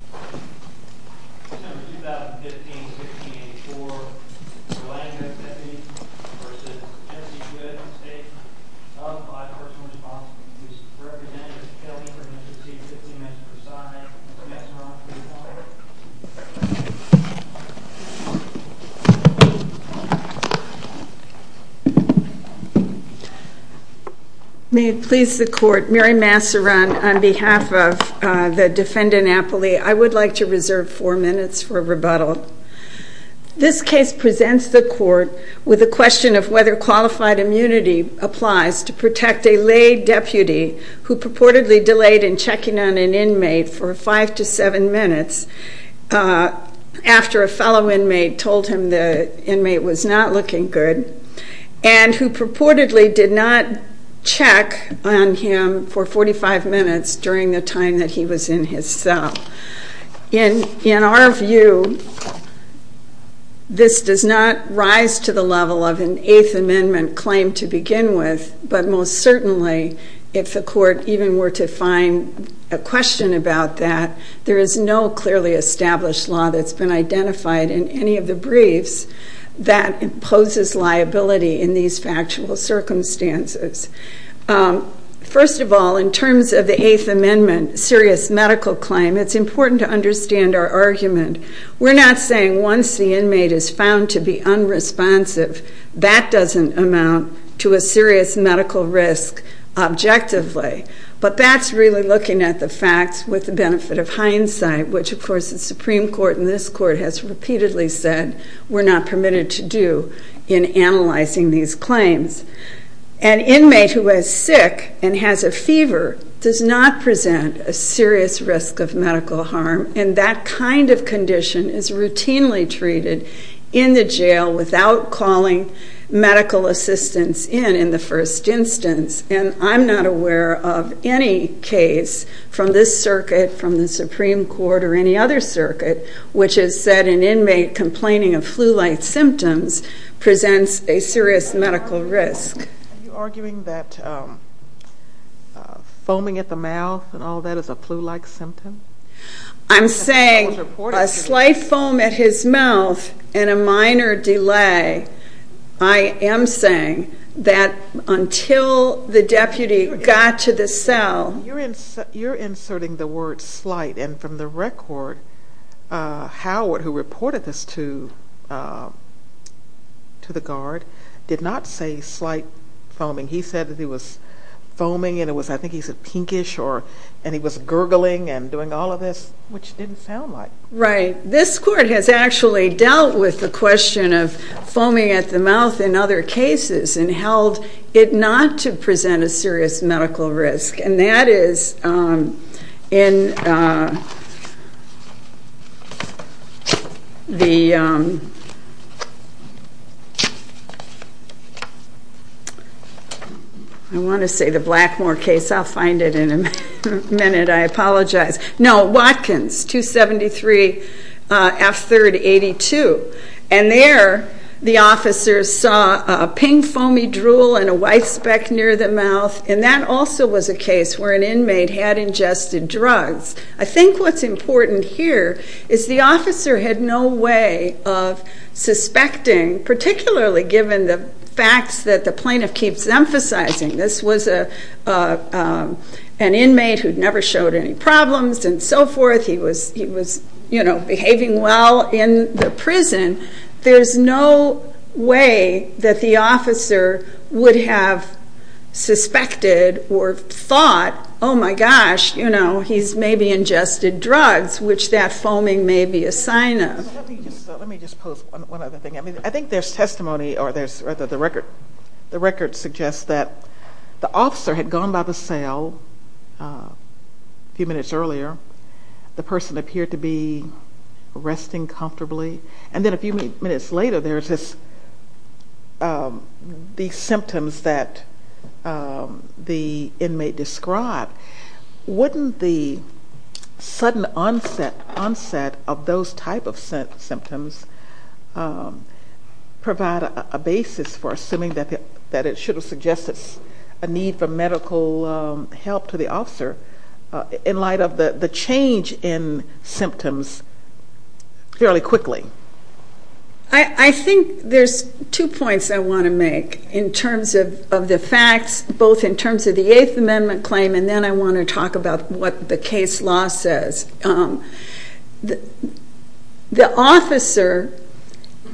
on behalf of the defendant, Apolli, I hereby declare that the defendant, Apolli, is guilty I would like to reserve four minutes for rebuttal. This case presents the court with a question of whether qualified immunity applies to protect a lay deputy who purportedly delayed in checking on an inmate for five to seven minutes after a fellow inmate told him the inmate was not looking good, and who purportedly did not check on him for 45 minutes during the time that he was in his cell. In our view, this does not rise to the level of an Eighth Amendment claim to begin with, but most certainly, if the court even were to find a question about that, there is no clearly established law that's been identified in any of the briefs that imposes liability in these factual circumstances. First of all, in terms of the Eighth Amendment serious medical claim, it's important to understand our argument. We're not saying once the inmate is found to be unresponsive, that doesn't amount to a serious medical risk objectively, but that's really looking at the facts with the benefit of hindsight, which of course the Supreme Court and this Court has repeatedly said we're not permitted to do in analyzing these claims. An inmate who is sick and has a fever does not present a serious risk of medical harm, and that kind of condition is routinely treated in the jail without calling medical assistance in in the first instance. And I'm not aware of any case from this circuit, from the Supreme Court, where complaining of flu-like symptoms presents a serious medical risk. Are you arguing that foaming at the mouth and all that is a flu-like symptom? I'm saying a slight foam at his mouth and a minor delay, I am saying that until the deputy got to the cell... You're inserting the word slight, and from the record, Howard, who reported this to the guard, did not say slight foaming. He said that he was foaming, and I think he said pinkish, and he was gurgling and doing all of this, which didn't sound like... Right. This Court has actually dealt with the question of foaming at the mouth in other cases, and that is in the... I want to say the Blackmore case, I'll find it in a minute, I apologize. No, Watkins, 273 F3rd 82. And there, the officers saw a pink foamy drool and a white speck near the mouth, and that also was a case where an inmate had ingested drugs. I think what's important here is the officer had no way of suspecting, particularly given the facts that the plaintiff keeps emphasizing, this was an inmate who never showed any problems and so forth, he was behaving well in the prison. There's no way that the officer would have suspected or thought, oh my gosh, he's maybe ingested drugs, which that foaming may be a sign of. Let me just pose one other thing. I think there's testimony, or the record suggests that the officer had gone by the cell a few minutes earlier, the person appeared to be resting comfortably, and then a few minutes later there's this, these symptoms that the inmate described. Wouldn't the sudden onset of those type of symptoms provide a basis for assuming that it should have suggested a need for medical help to the officer in light of the change in symptoms fairly quickly? I think there's two points I want to make in terms of the facts, both in terms of the Eighth Amendment claim and then I want to talk about what the case law says. The officer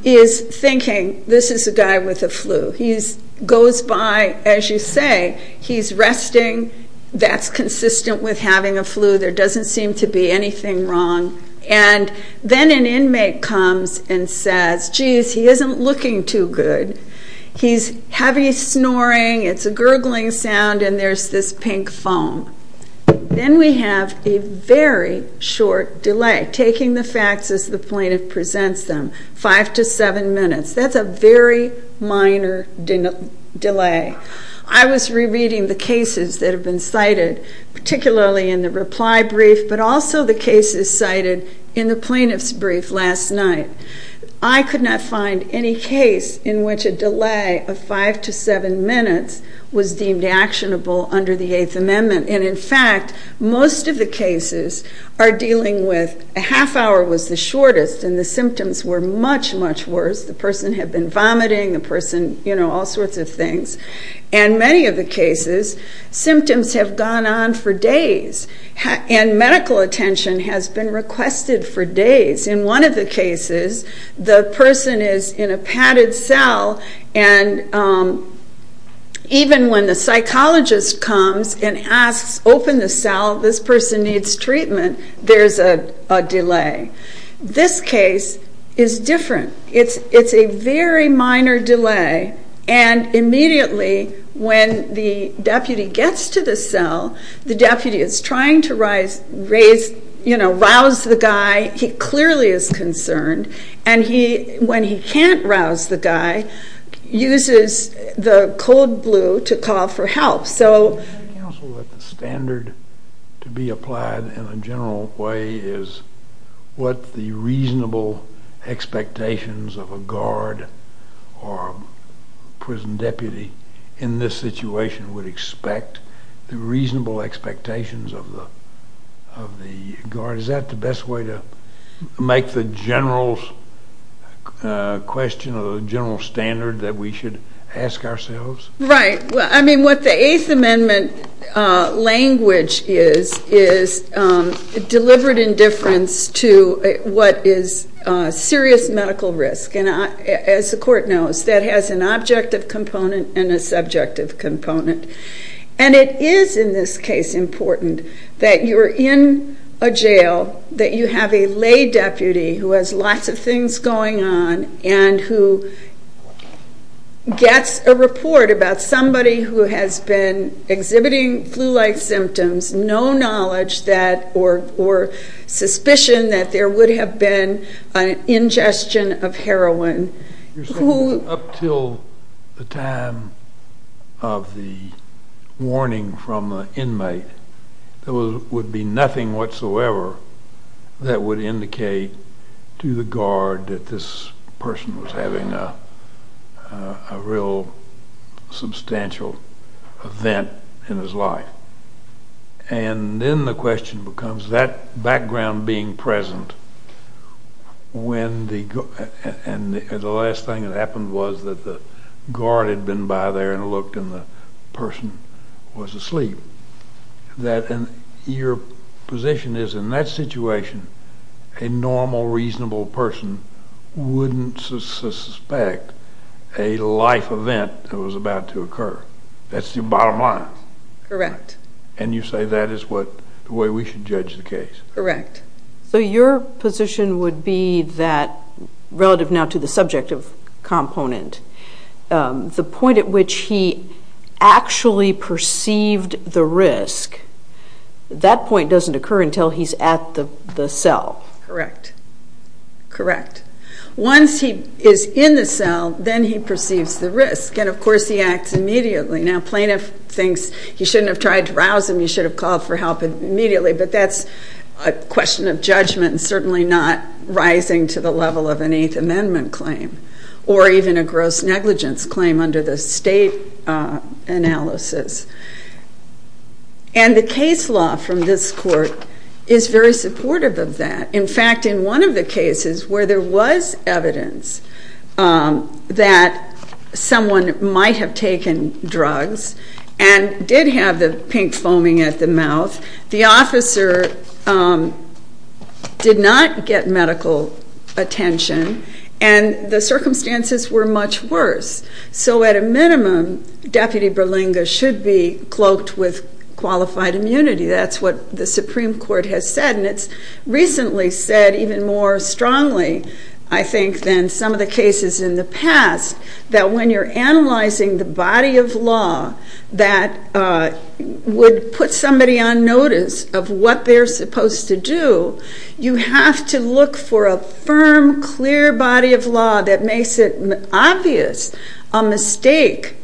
is thinking this is a guy with a flu, he goes by, as you say, he's resting, that's consistent with having a flu, there doesn't seem to be anything wrong, and then an inmate comes and says, geez, he isn't looking too good, he's heavy snoring, it's a gurgling sound, and there's this pink foam. Then we have a very short delay, taking the facts as the plaintiff presents them, five to seven minutes. That's a very minor delay. I was rereading the cases that have been cited, particularly in the reply brief, but also the cases cited in the plaintiff's brief last night. I could not find any case in which a delay of five to seven minutes was deemed actionable under the Eighth Amendment, and in fact, most of the cases are dealing with a half hour was the shortest and the symptoms were much, much worse, the person had been vomiting, the person, you know, all sorts of things, and many of the cases, symptoms have gone on for days, and medical attention has been requested for days. In one of the cases, the person is in a padded cell, and even when the psychologist comes and asks, open the cell, this person needs treatment, there's a delay. This case is different. It's a very minor delay, and immediately when the deputy gets to the cell, the deputy is trying to, you know, rouse the guy, he clearly is concerned, and when he can't rouse the guy, uses the cold blue to call for help. So the standard to be applied in a general way is what the reasonable and reasonable expectations of a guard or a prison deputy in this situation would expect, the reasonable expectations of the guard, is that the best way to make the general question or the general standard that we should ask ourselves? Right. I mean, what the Eighth Amendment language is, is deliberate indifference to what is serious medical risk, and as the court knows, that has an objective component and a subjective component. And it is in this case important that you're in a jail, that you have a lay deputy who has lots of things going on, and who gets a report about somebody who has been exhibiting flu-like symptoms, no knowledge that, or suspicion that there would have been ingestion of heroin. Up till the time of the warning from the inmate, there would be nothing whatsoever that would indicate to the guard that this person was having a real substantial event in his life. And then the question becomes, that background being present, and the last thing that happened was that the guard had been by there and looked and the person was asleep, that your position is in that situation, a normal, reasonable person wouldn't suspect a life event that was about to occur. That's the bottom line. Correct. And you say that is what, the way we should judge the case. Correct. So your position would be that, relative now to the subjective component, the point at which he actually perceived the risk, that point doesn't occur until he's at the cell. Correct. Correct. Once he is in the cell, then he perceives the risk, and of course he acts immediately. Now plaintiff thinks he shouldn't have tried to rouse him, he should have called for help immediately, but that's a question of judgment and certainly not rising to the level of an Eighth Amendment claim, or even a gross negligence claim under the state analysis. And the case law from this court is very supportive of that. In fact, in one of the cases where there was evidence that someone might have taken drugs and did have the pink foaming at the mouth, the officer did not get medical attention and the circumstances were much worse. So at a minimum, Deputy Berlinga should be cloaked with qualified immunity. That's what the Supreme Court has said and it's recently said even more strongly, I think, than some of the cases in the past, that when you're analyzing the body of law that would put somebody on notice of what they're supposed to do, you have to look for a firm, clear body of law that makes it obvious a mistake,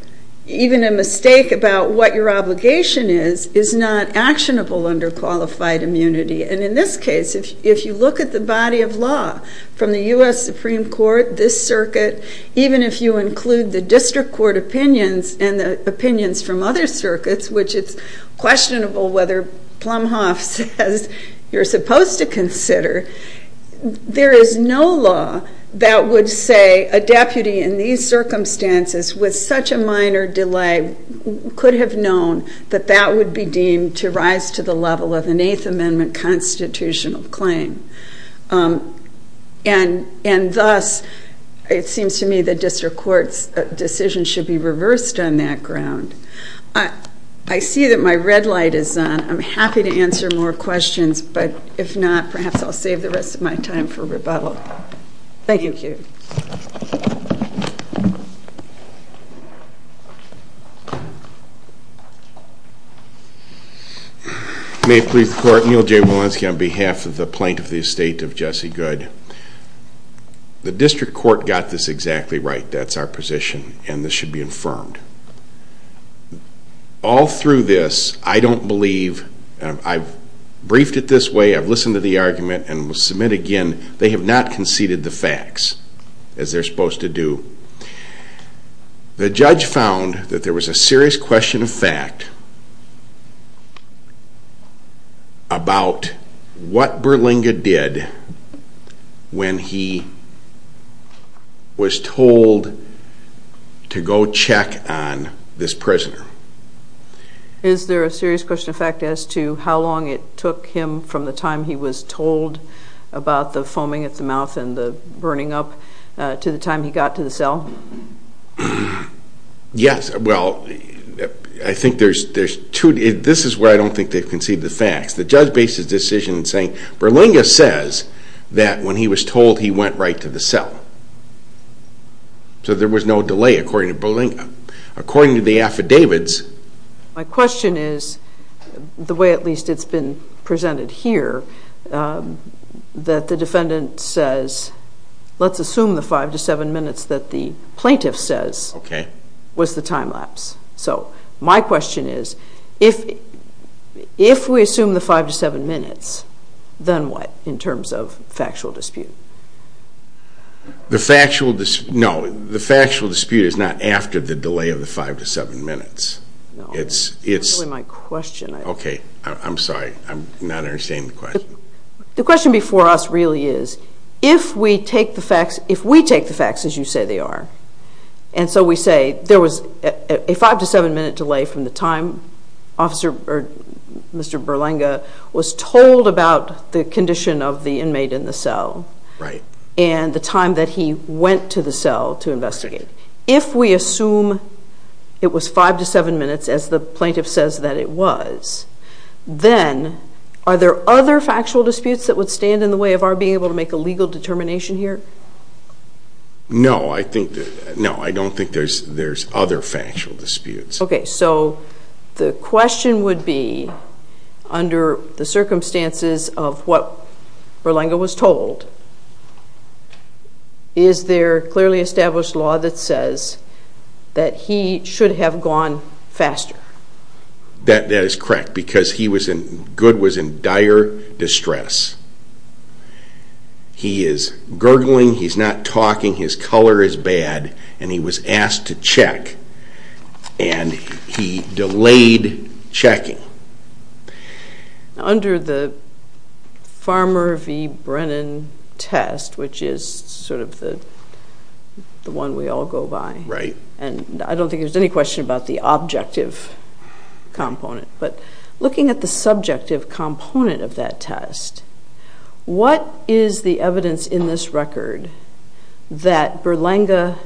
even a mistake about what your obligation is, is not actionable under qualified immunity. And in this case, if you look at the body of law from the U.S. Supreme Court, this circuit, even if you include the district court opinions and the opinions from other circuits, which it's questionable whether Plumhoff says you're supposed to consider, there is no law that would say a deputy in these circumstances with such a minor delay could have known that that would be deemed to rise to the level of an Eighth Amendment constitutional claim. And thus, it seems to me the district court's decision should be reversed on that ground. I see that my red light is on. I'm happy to answer more questions, but if not, perhaps I'll save the rest of my time for rebuttal. May it please the Court, Neal J. Walensky on behalf of the Plaintiff of the Estate of Jesse Good. The district court got this exactly right, that's our position, and this should be affirmed. All through this, I don't believe, I've briefed it this way, I've listened to the argument, and will submit again, they have not conceded the facts as they're supposed to do. The judge found that there was a serious question of fact about what Berlinga did when he was told to go check on this prisoner. Is there a serious question of fact as to how long it took him from the time he was told about the foaming at the mouth and the time he got to the cell? Yes, well, I think there's two, this is where I don't think they've conceded the facts. The judge based his decision saying Berlinga says that when he was told he went right to the cell. So there was no delay according to Berlinga. According to the affidavits... My question is, the way at least it's been presented here, that the defendant says, let's assume the five to seven minutes that the plaintiff says was the time lapse. So my question is, if we assume the five to seven minutes, then what in terms of factual dispute? The factual dispute is not after the delay of the five to seven minutes. No, that's not really my question. Okay, I'm sorry, I'm not understanding the question. The question before us really is, if we take the facts as you say they are, and so we say there was a five to seven minute delay from the time Mr. Berlinga was told about the condition of the inmate in the cell and the time that he went to the cell to investigate. If we assume it was five to seven minutes as the plaintiff says that it was, then are there other factual disputes that would stand in the way of our being able to make a legal determination here? No, I don't think there's other factual disputes. Okay, so the question would be, under the circumstances of what Berlinga was told, is there clearly established law that says that he should have gone faster? That is correct, because Good was in dire distress. He is gurgling, he's not talking, his color is bad, and he was asked to check and he delayed checking. Under the Farmer v. Brennan test, which is sort of the one we all go by, and I don't think there's any question about the objective component, but looking at the subjective component of that test, what is the evidence in this record that Berlinga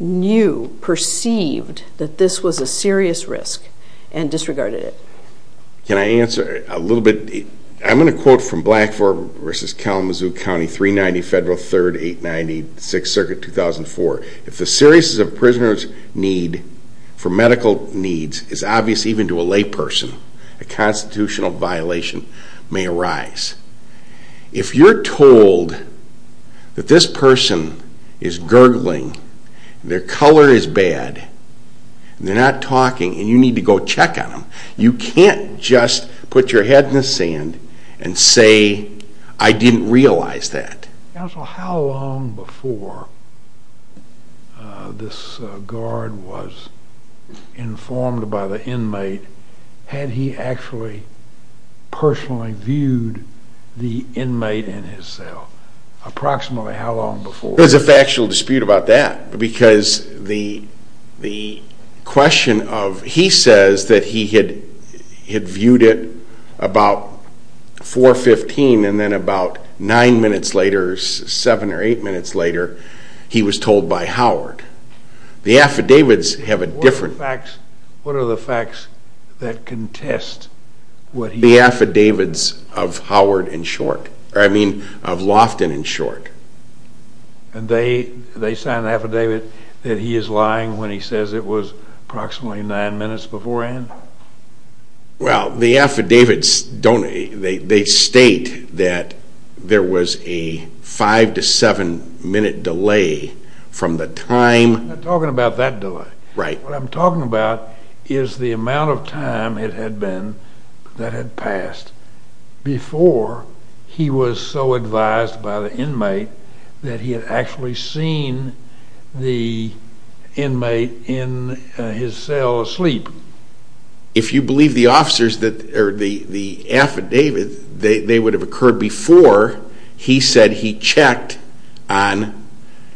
knew, perceived, that this was a serious risk and disregarded it? Can I answer a little bit? I'm going to quote from Blackford v. Kalamazoo County, 390 Federal 3rd 890 6th Circuit, 2004. If the seriousness of a prisoner's need for medical needs is obvious even to a lay person, a constitutional violation may arise. If you're told that this person is gurgling, their color is bad, they're not talking, and you need to go check on them, you can't just put your head in the sand and say, I didn't realize that. Counsel, how long before this guard was informed by the inmate, had he actually personally viewed the inmate in his cell? Approximately how long before? There's a factual dispute about that, because the question of, he says that he had viewed it about 4.15 and then about 9 minutes later, 7 or 8 minutes later, he was told by Howard. The affidavits have a different... What are the facts that contest what he... The affidavits of Howard in short, I mean of Lofton in short. And they sign an affidavit that he is lying when he says it was approximately 9 minutes beforehand? Well, the affidavits don't, they state that there was a factual dispute about 5 to 7 minute delay from the time... I'm not talking about that delay. Right. What I'm talking about is the amount of time it had been that had passed before he was so advised by the inmate that he had actually seen the inmate in his cell asleep. If you checked on...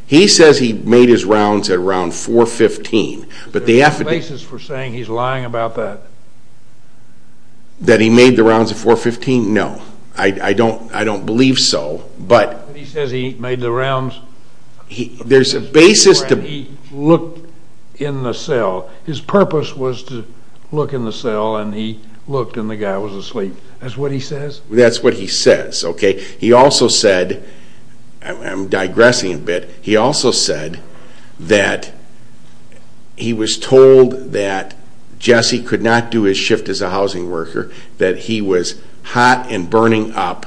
He says he made his rounds at around 4.15, but the affidavits... Is there a basis for saying he's lying about that? That he made the rounds at 4.15? No. I don't believe so, but... He says he made the rounds... There's a basis to... He looked in the cell. His purpose was to look in the cell and he looked and the guy was asleep. That's what he says? That's what he says, okay? He also said, I'm digressing a bit, he also said that he was told that Jesse could not do his shift as a housing worker, that he was hot and burning up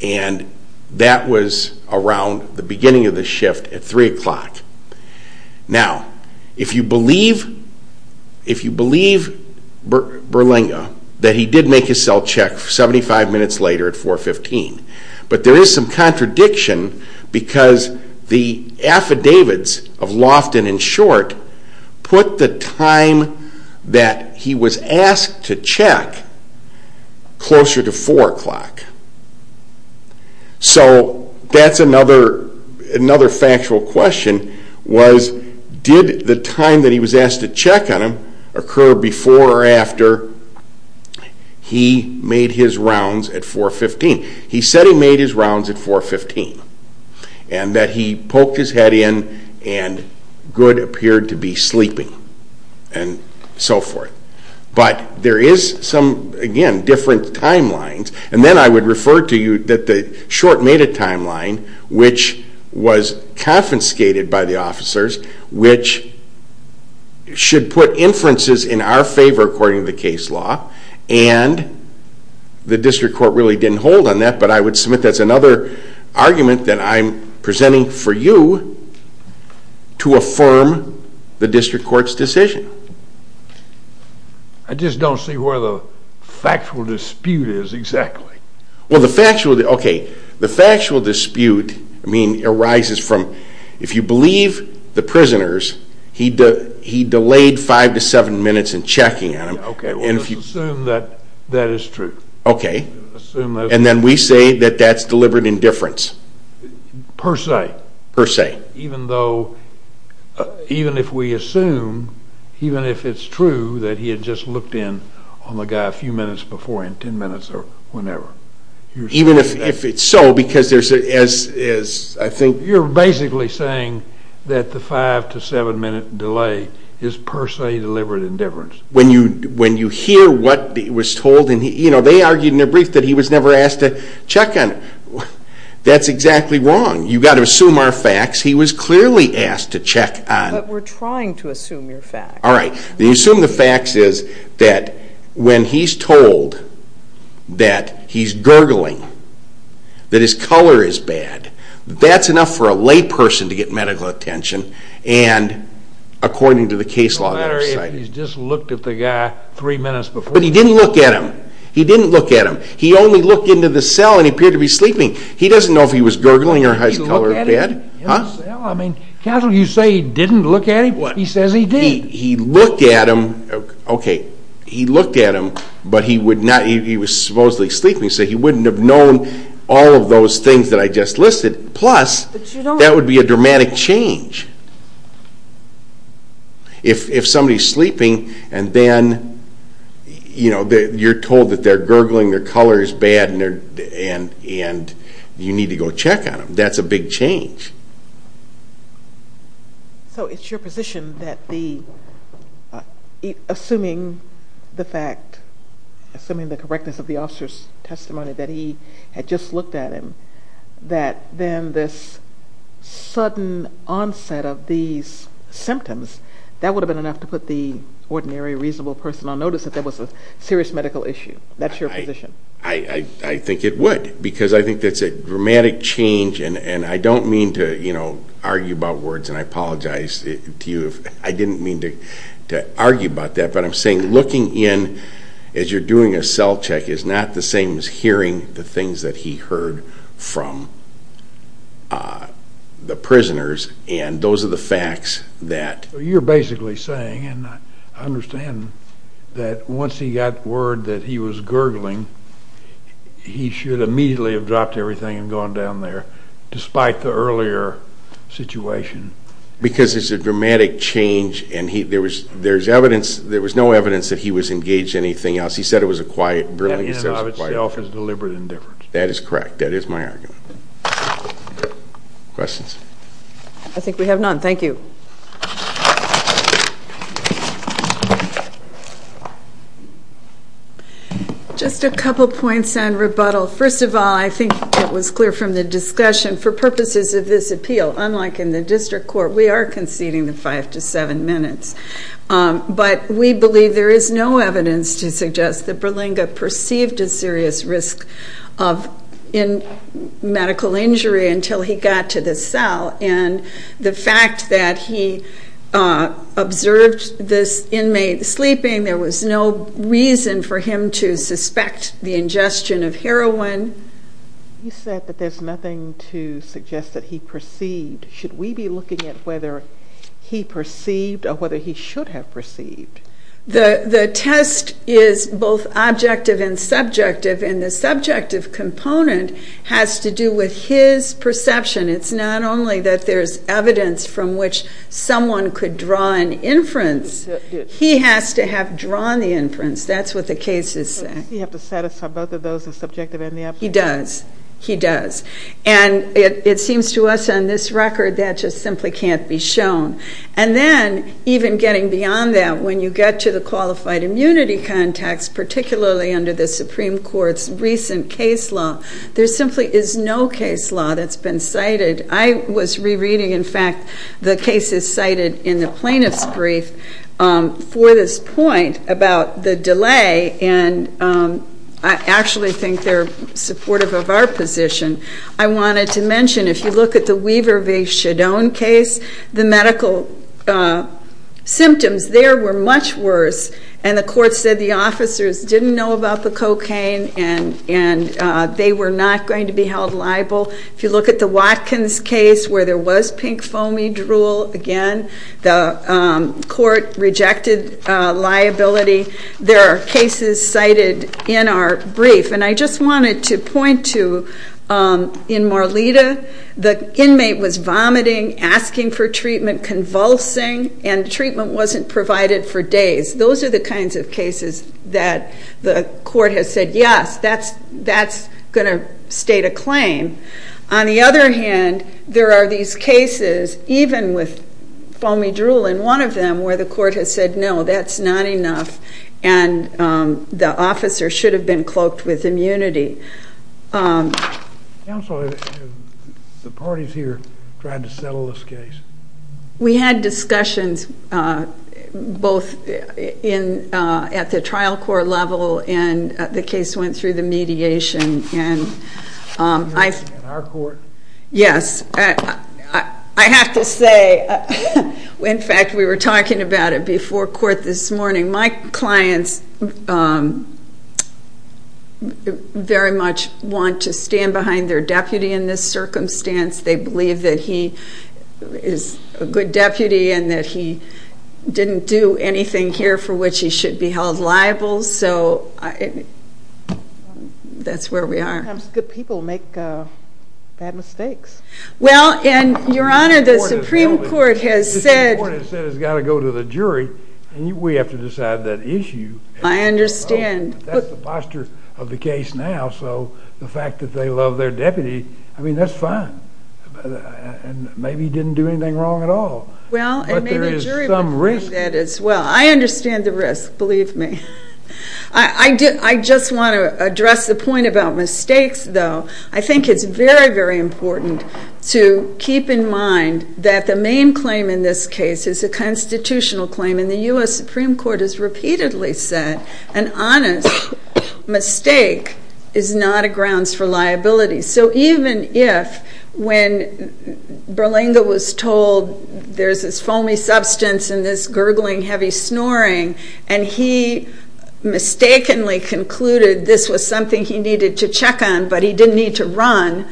and that was around the beginning of the shift at 3 o'clock. Now, if you believe Berlinga that he did make his cell check 75 minutes later at 4.15, but there is some contradiction because the affidavits of Lofton and Short put the time that he was asked to check closer to 4 o'clock. So that's another factual question, was did the time that he was asked to check on him occur before or after he made his rounds at 4.15? He said he made his rounds at 4.15 and that he poked his head in and Good appeared to be sleeping and so forth. But there is some, again, different timelines and then I would refer to you that the Short made a decision, which should put inferences in our favor according to the case law and the district court really didn't hold on that, but I would submit that's another argument that I'm presenting for you to affirm the district court's decision. I just don't see where the factual dispute is exactly. Well, the factual, okay, the factual dispute arises from if you believe the prisoners, he delayed 5 to 7 minutes in checking on him. Okay. Assume that that is true. Okay. Assume that. And then we say that that's deliberate indifference. Per se. Per se. Even though, even if we assume, even if it's true that he had just looked in on the guy a few minutes before him, 10 minutes or whenever. Even if it's so, because there's a, as I think. You're basically saying that the 5 to 7 minute delay is per se deliberate indifference. When you hear what was told and, you know, they argued in their brief that he was never asked to check on, that's exactly wrong. You've got to assume our facts. He was clearly asked to check on. But we're trying to assume your facts. All right. Then you assume the facts is that when he's told that he's gurgling, that his color is green or his color is bad. That's enough for a lay person to get medical attention. And according to the case law that I've cited. It doesn't matter if he's just looked at the guy three minutes before him. But he didn't look at him. He didn't look at him. He only looked into the cell and appeared to be sleeping. He doesn't know if he was gurgling or his color was bad. He looked at him? Huh? In the cell? I mean, counsel, you say he didn't look at him. What? He says he did. He looked at him. Okay. He looked at him, but he would say he wouldn't have known all of those things that I just listed. Plus, that would be a dramatic change. If somebody's sleeping and then, you know, you're told that they're gurgling, their color is bad, and you need to go check on them. That's a big change. So it's your position that the, assuming the fact, assuming the correctness of the officer's testimony that he had just looked at him, that then this sudden onset of these symptoms, that would have been enough to put the ordinary, reasonable person on notice that there was a serious medical issue. That's your position? I think it would. Because I think that's a dramatic change, and I don't mean to, you know, argue about words, and I apologize to you. I didn't mean to argue about that, but I'm saying looking in as you're doing a cell check is not the same as hearing the things that he heard from the prisoners, and those are the facts that... You're basically saying, and I understand that once he got word that he was gurgling, he should immediately have dropped everything and gone down there, despite the earlier situation. Because it's a dramatic change, and there's evidence, there was no evidence that he was engaged in anything else. He said it was a quiet burglary. The end of itself is deliberate indifference. That is correct. That is my argument. Questions? I think we have none. Thank you. Just a couple points on rebuttal. First of all, I think it was clear from the discussion, for purposes of this appeal, unlike in the district court, we are conceding the five to seven minutes. But we believe there is no evidence to suggest that Berlinga perceived a serious risk of medical injury until he got to the cell, and the fact that he observed this inmate sleeping, there was no reason for him to suspect the ingestion of heroin. You said that there's nothing to suggest that he perceived. Should we be looking at whether he perceived or whether he should have perceived? The test is both objective and subjective, and the subjective component has to do with his perception. It's not only that there's evidence from which someone could draw an inference, he has to have drawn the inference. That's what the case is saying. Does he have to satisfy both of those, the subjective and the objective? He does. He does. And it seems to us on this record that just simply can't be shown. And then, even getting beyond that, when you get to the qualified immunity context, particularly under the Supreme Court's recent case law, there simply is no case law that's been cited. I was rereading, in fact, the cases cited in the plaintiff's brief for this point about the delay, and I actually think they're supportive of our position. I wanted to mention, if you look at the Weaver v. Shadone case, the medical symptoms there were much worse, and the court said the officers didn't know about the cocaine, and they were not going to be held liable. If you look at the Watkins case, where there was pink foamy drool, again, the court rejected liability. There are cases cited in our brief, and I just wanted to point to, in Marlita, the inmate was vomiting, asking for treatment, convulsing, and treatment wasn't provided for days. Those are the kinds of cases that the court has said, yes, that's going to state a claim. On the other hand, there are these cases, even with foamy drool in one of them, where the court has said, no, that's not enough, and the officer should have been cloaked with immunity. Counsel, have the parties here tried to settle this case? We had discussions, both at the trial court level, and the case went through the mediation. In our court? Yes. I have to say, in fact, we were talking about it before court this morning. My clients very much want to stand behind their deputy in this circumstance. They believe that he is a good deputy, and that he didn't do anything here for which he should be held liable. That's where we are. Sometimes good people make bad mistakes. Well, and Your Honor, the Supreme Court has said... I understand. That's the posture of the case now, so the fact that they love their deputy, I mean, that's fine. Maybe he didn't do anything wrong at all, but there is some risk. Well, I understand the risk, believe me. I just want to address the point about mistakes, though. I think it's very, very important to keep in mind that the main claim in this case is that, as I repeatedly said, an honest mistake is not a grounds for liability. So even if, when Berlinga was told there's this foamy substance and this gurgling, heavy snoring, and he mistakenly concluded this was something he needed to check on, but he didn't need to run,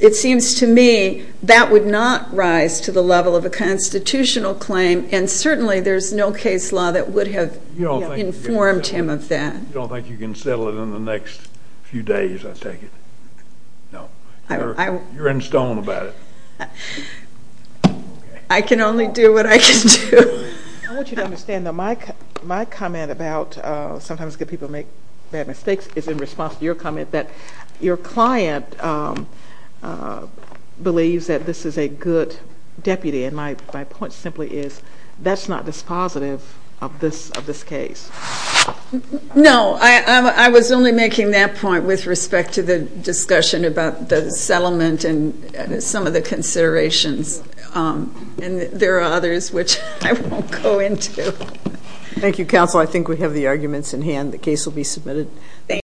it seems to me that would not rise to the level of a constitutional claim, and certainly there's no case law that would have informed him of that. You don't think you can settle it in the next few days, I take it? No. You're in stone about it. I can only do what I can do. I want you to understand, though, my comment about sometimes good people make bad mistakes is in response to your comment that your client believes that this is a good deputy, and my client's not dispositive of this case. No, I was only making that point with respect to the discussion about the settlement and some of the considerations, and there are others which I won't go into. Thank you, counsel. I think we have the arguments in hand. The case will be submitted.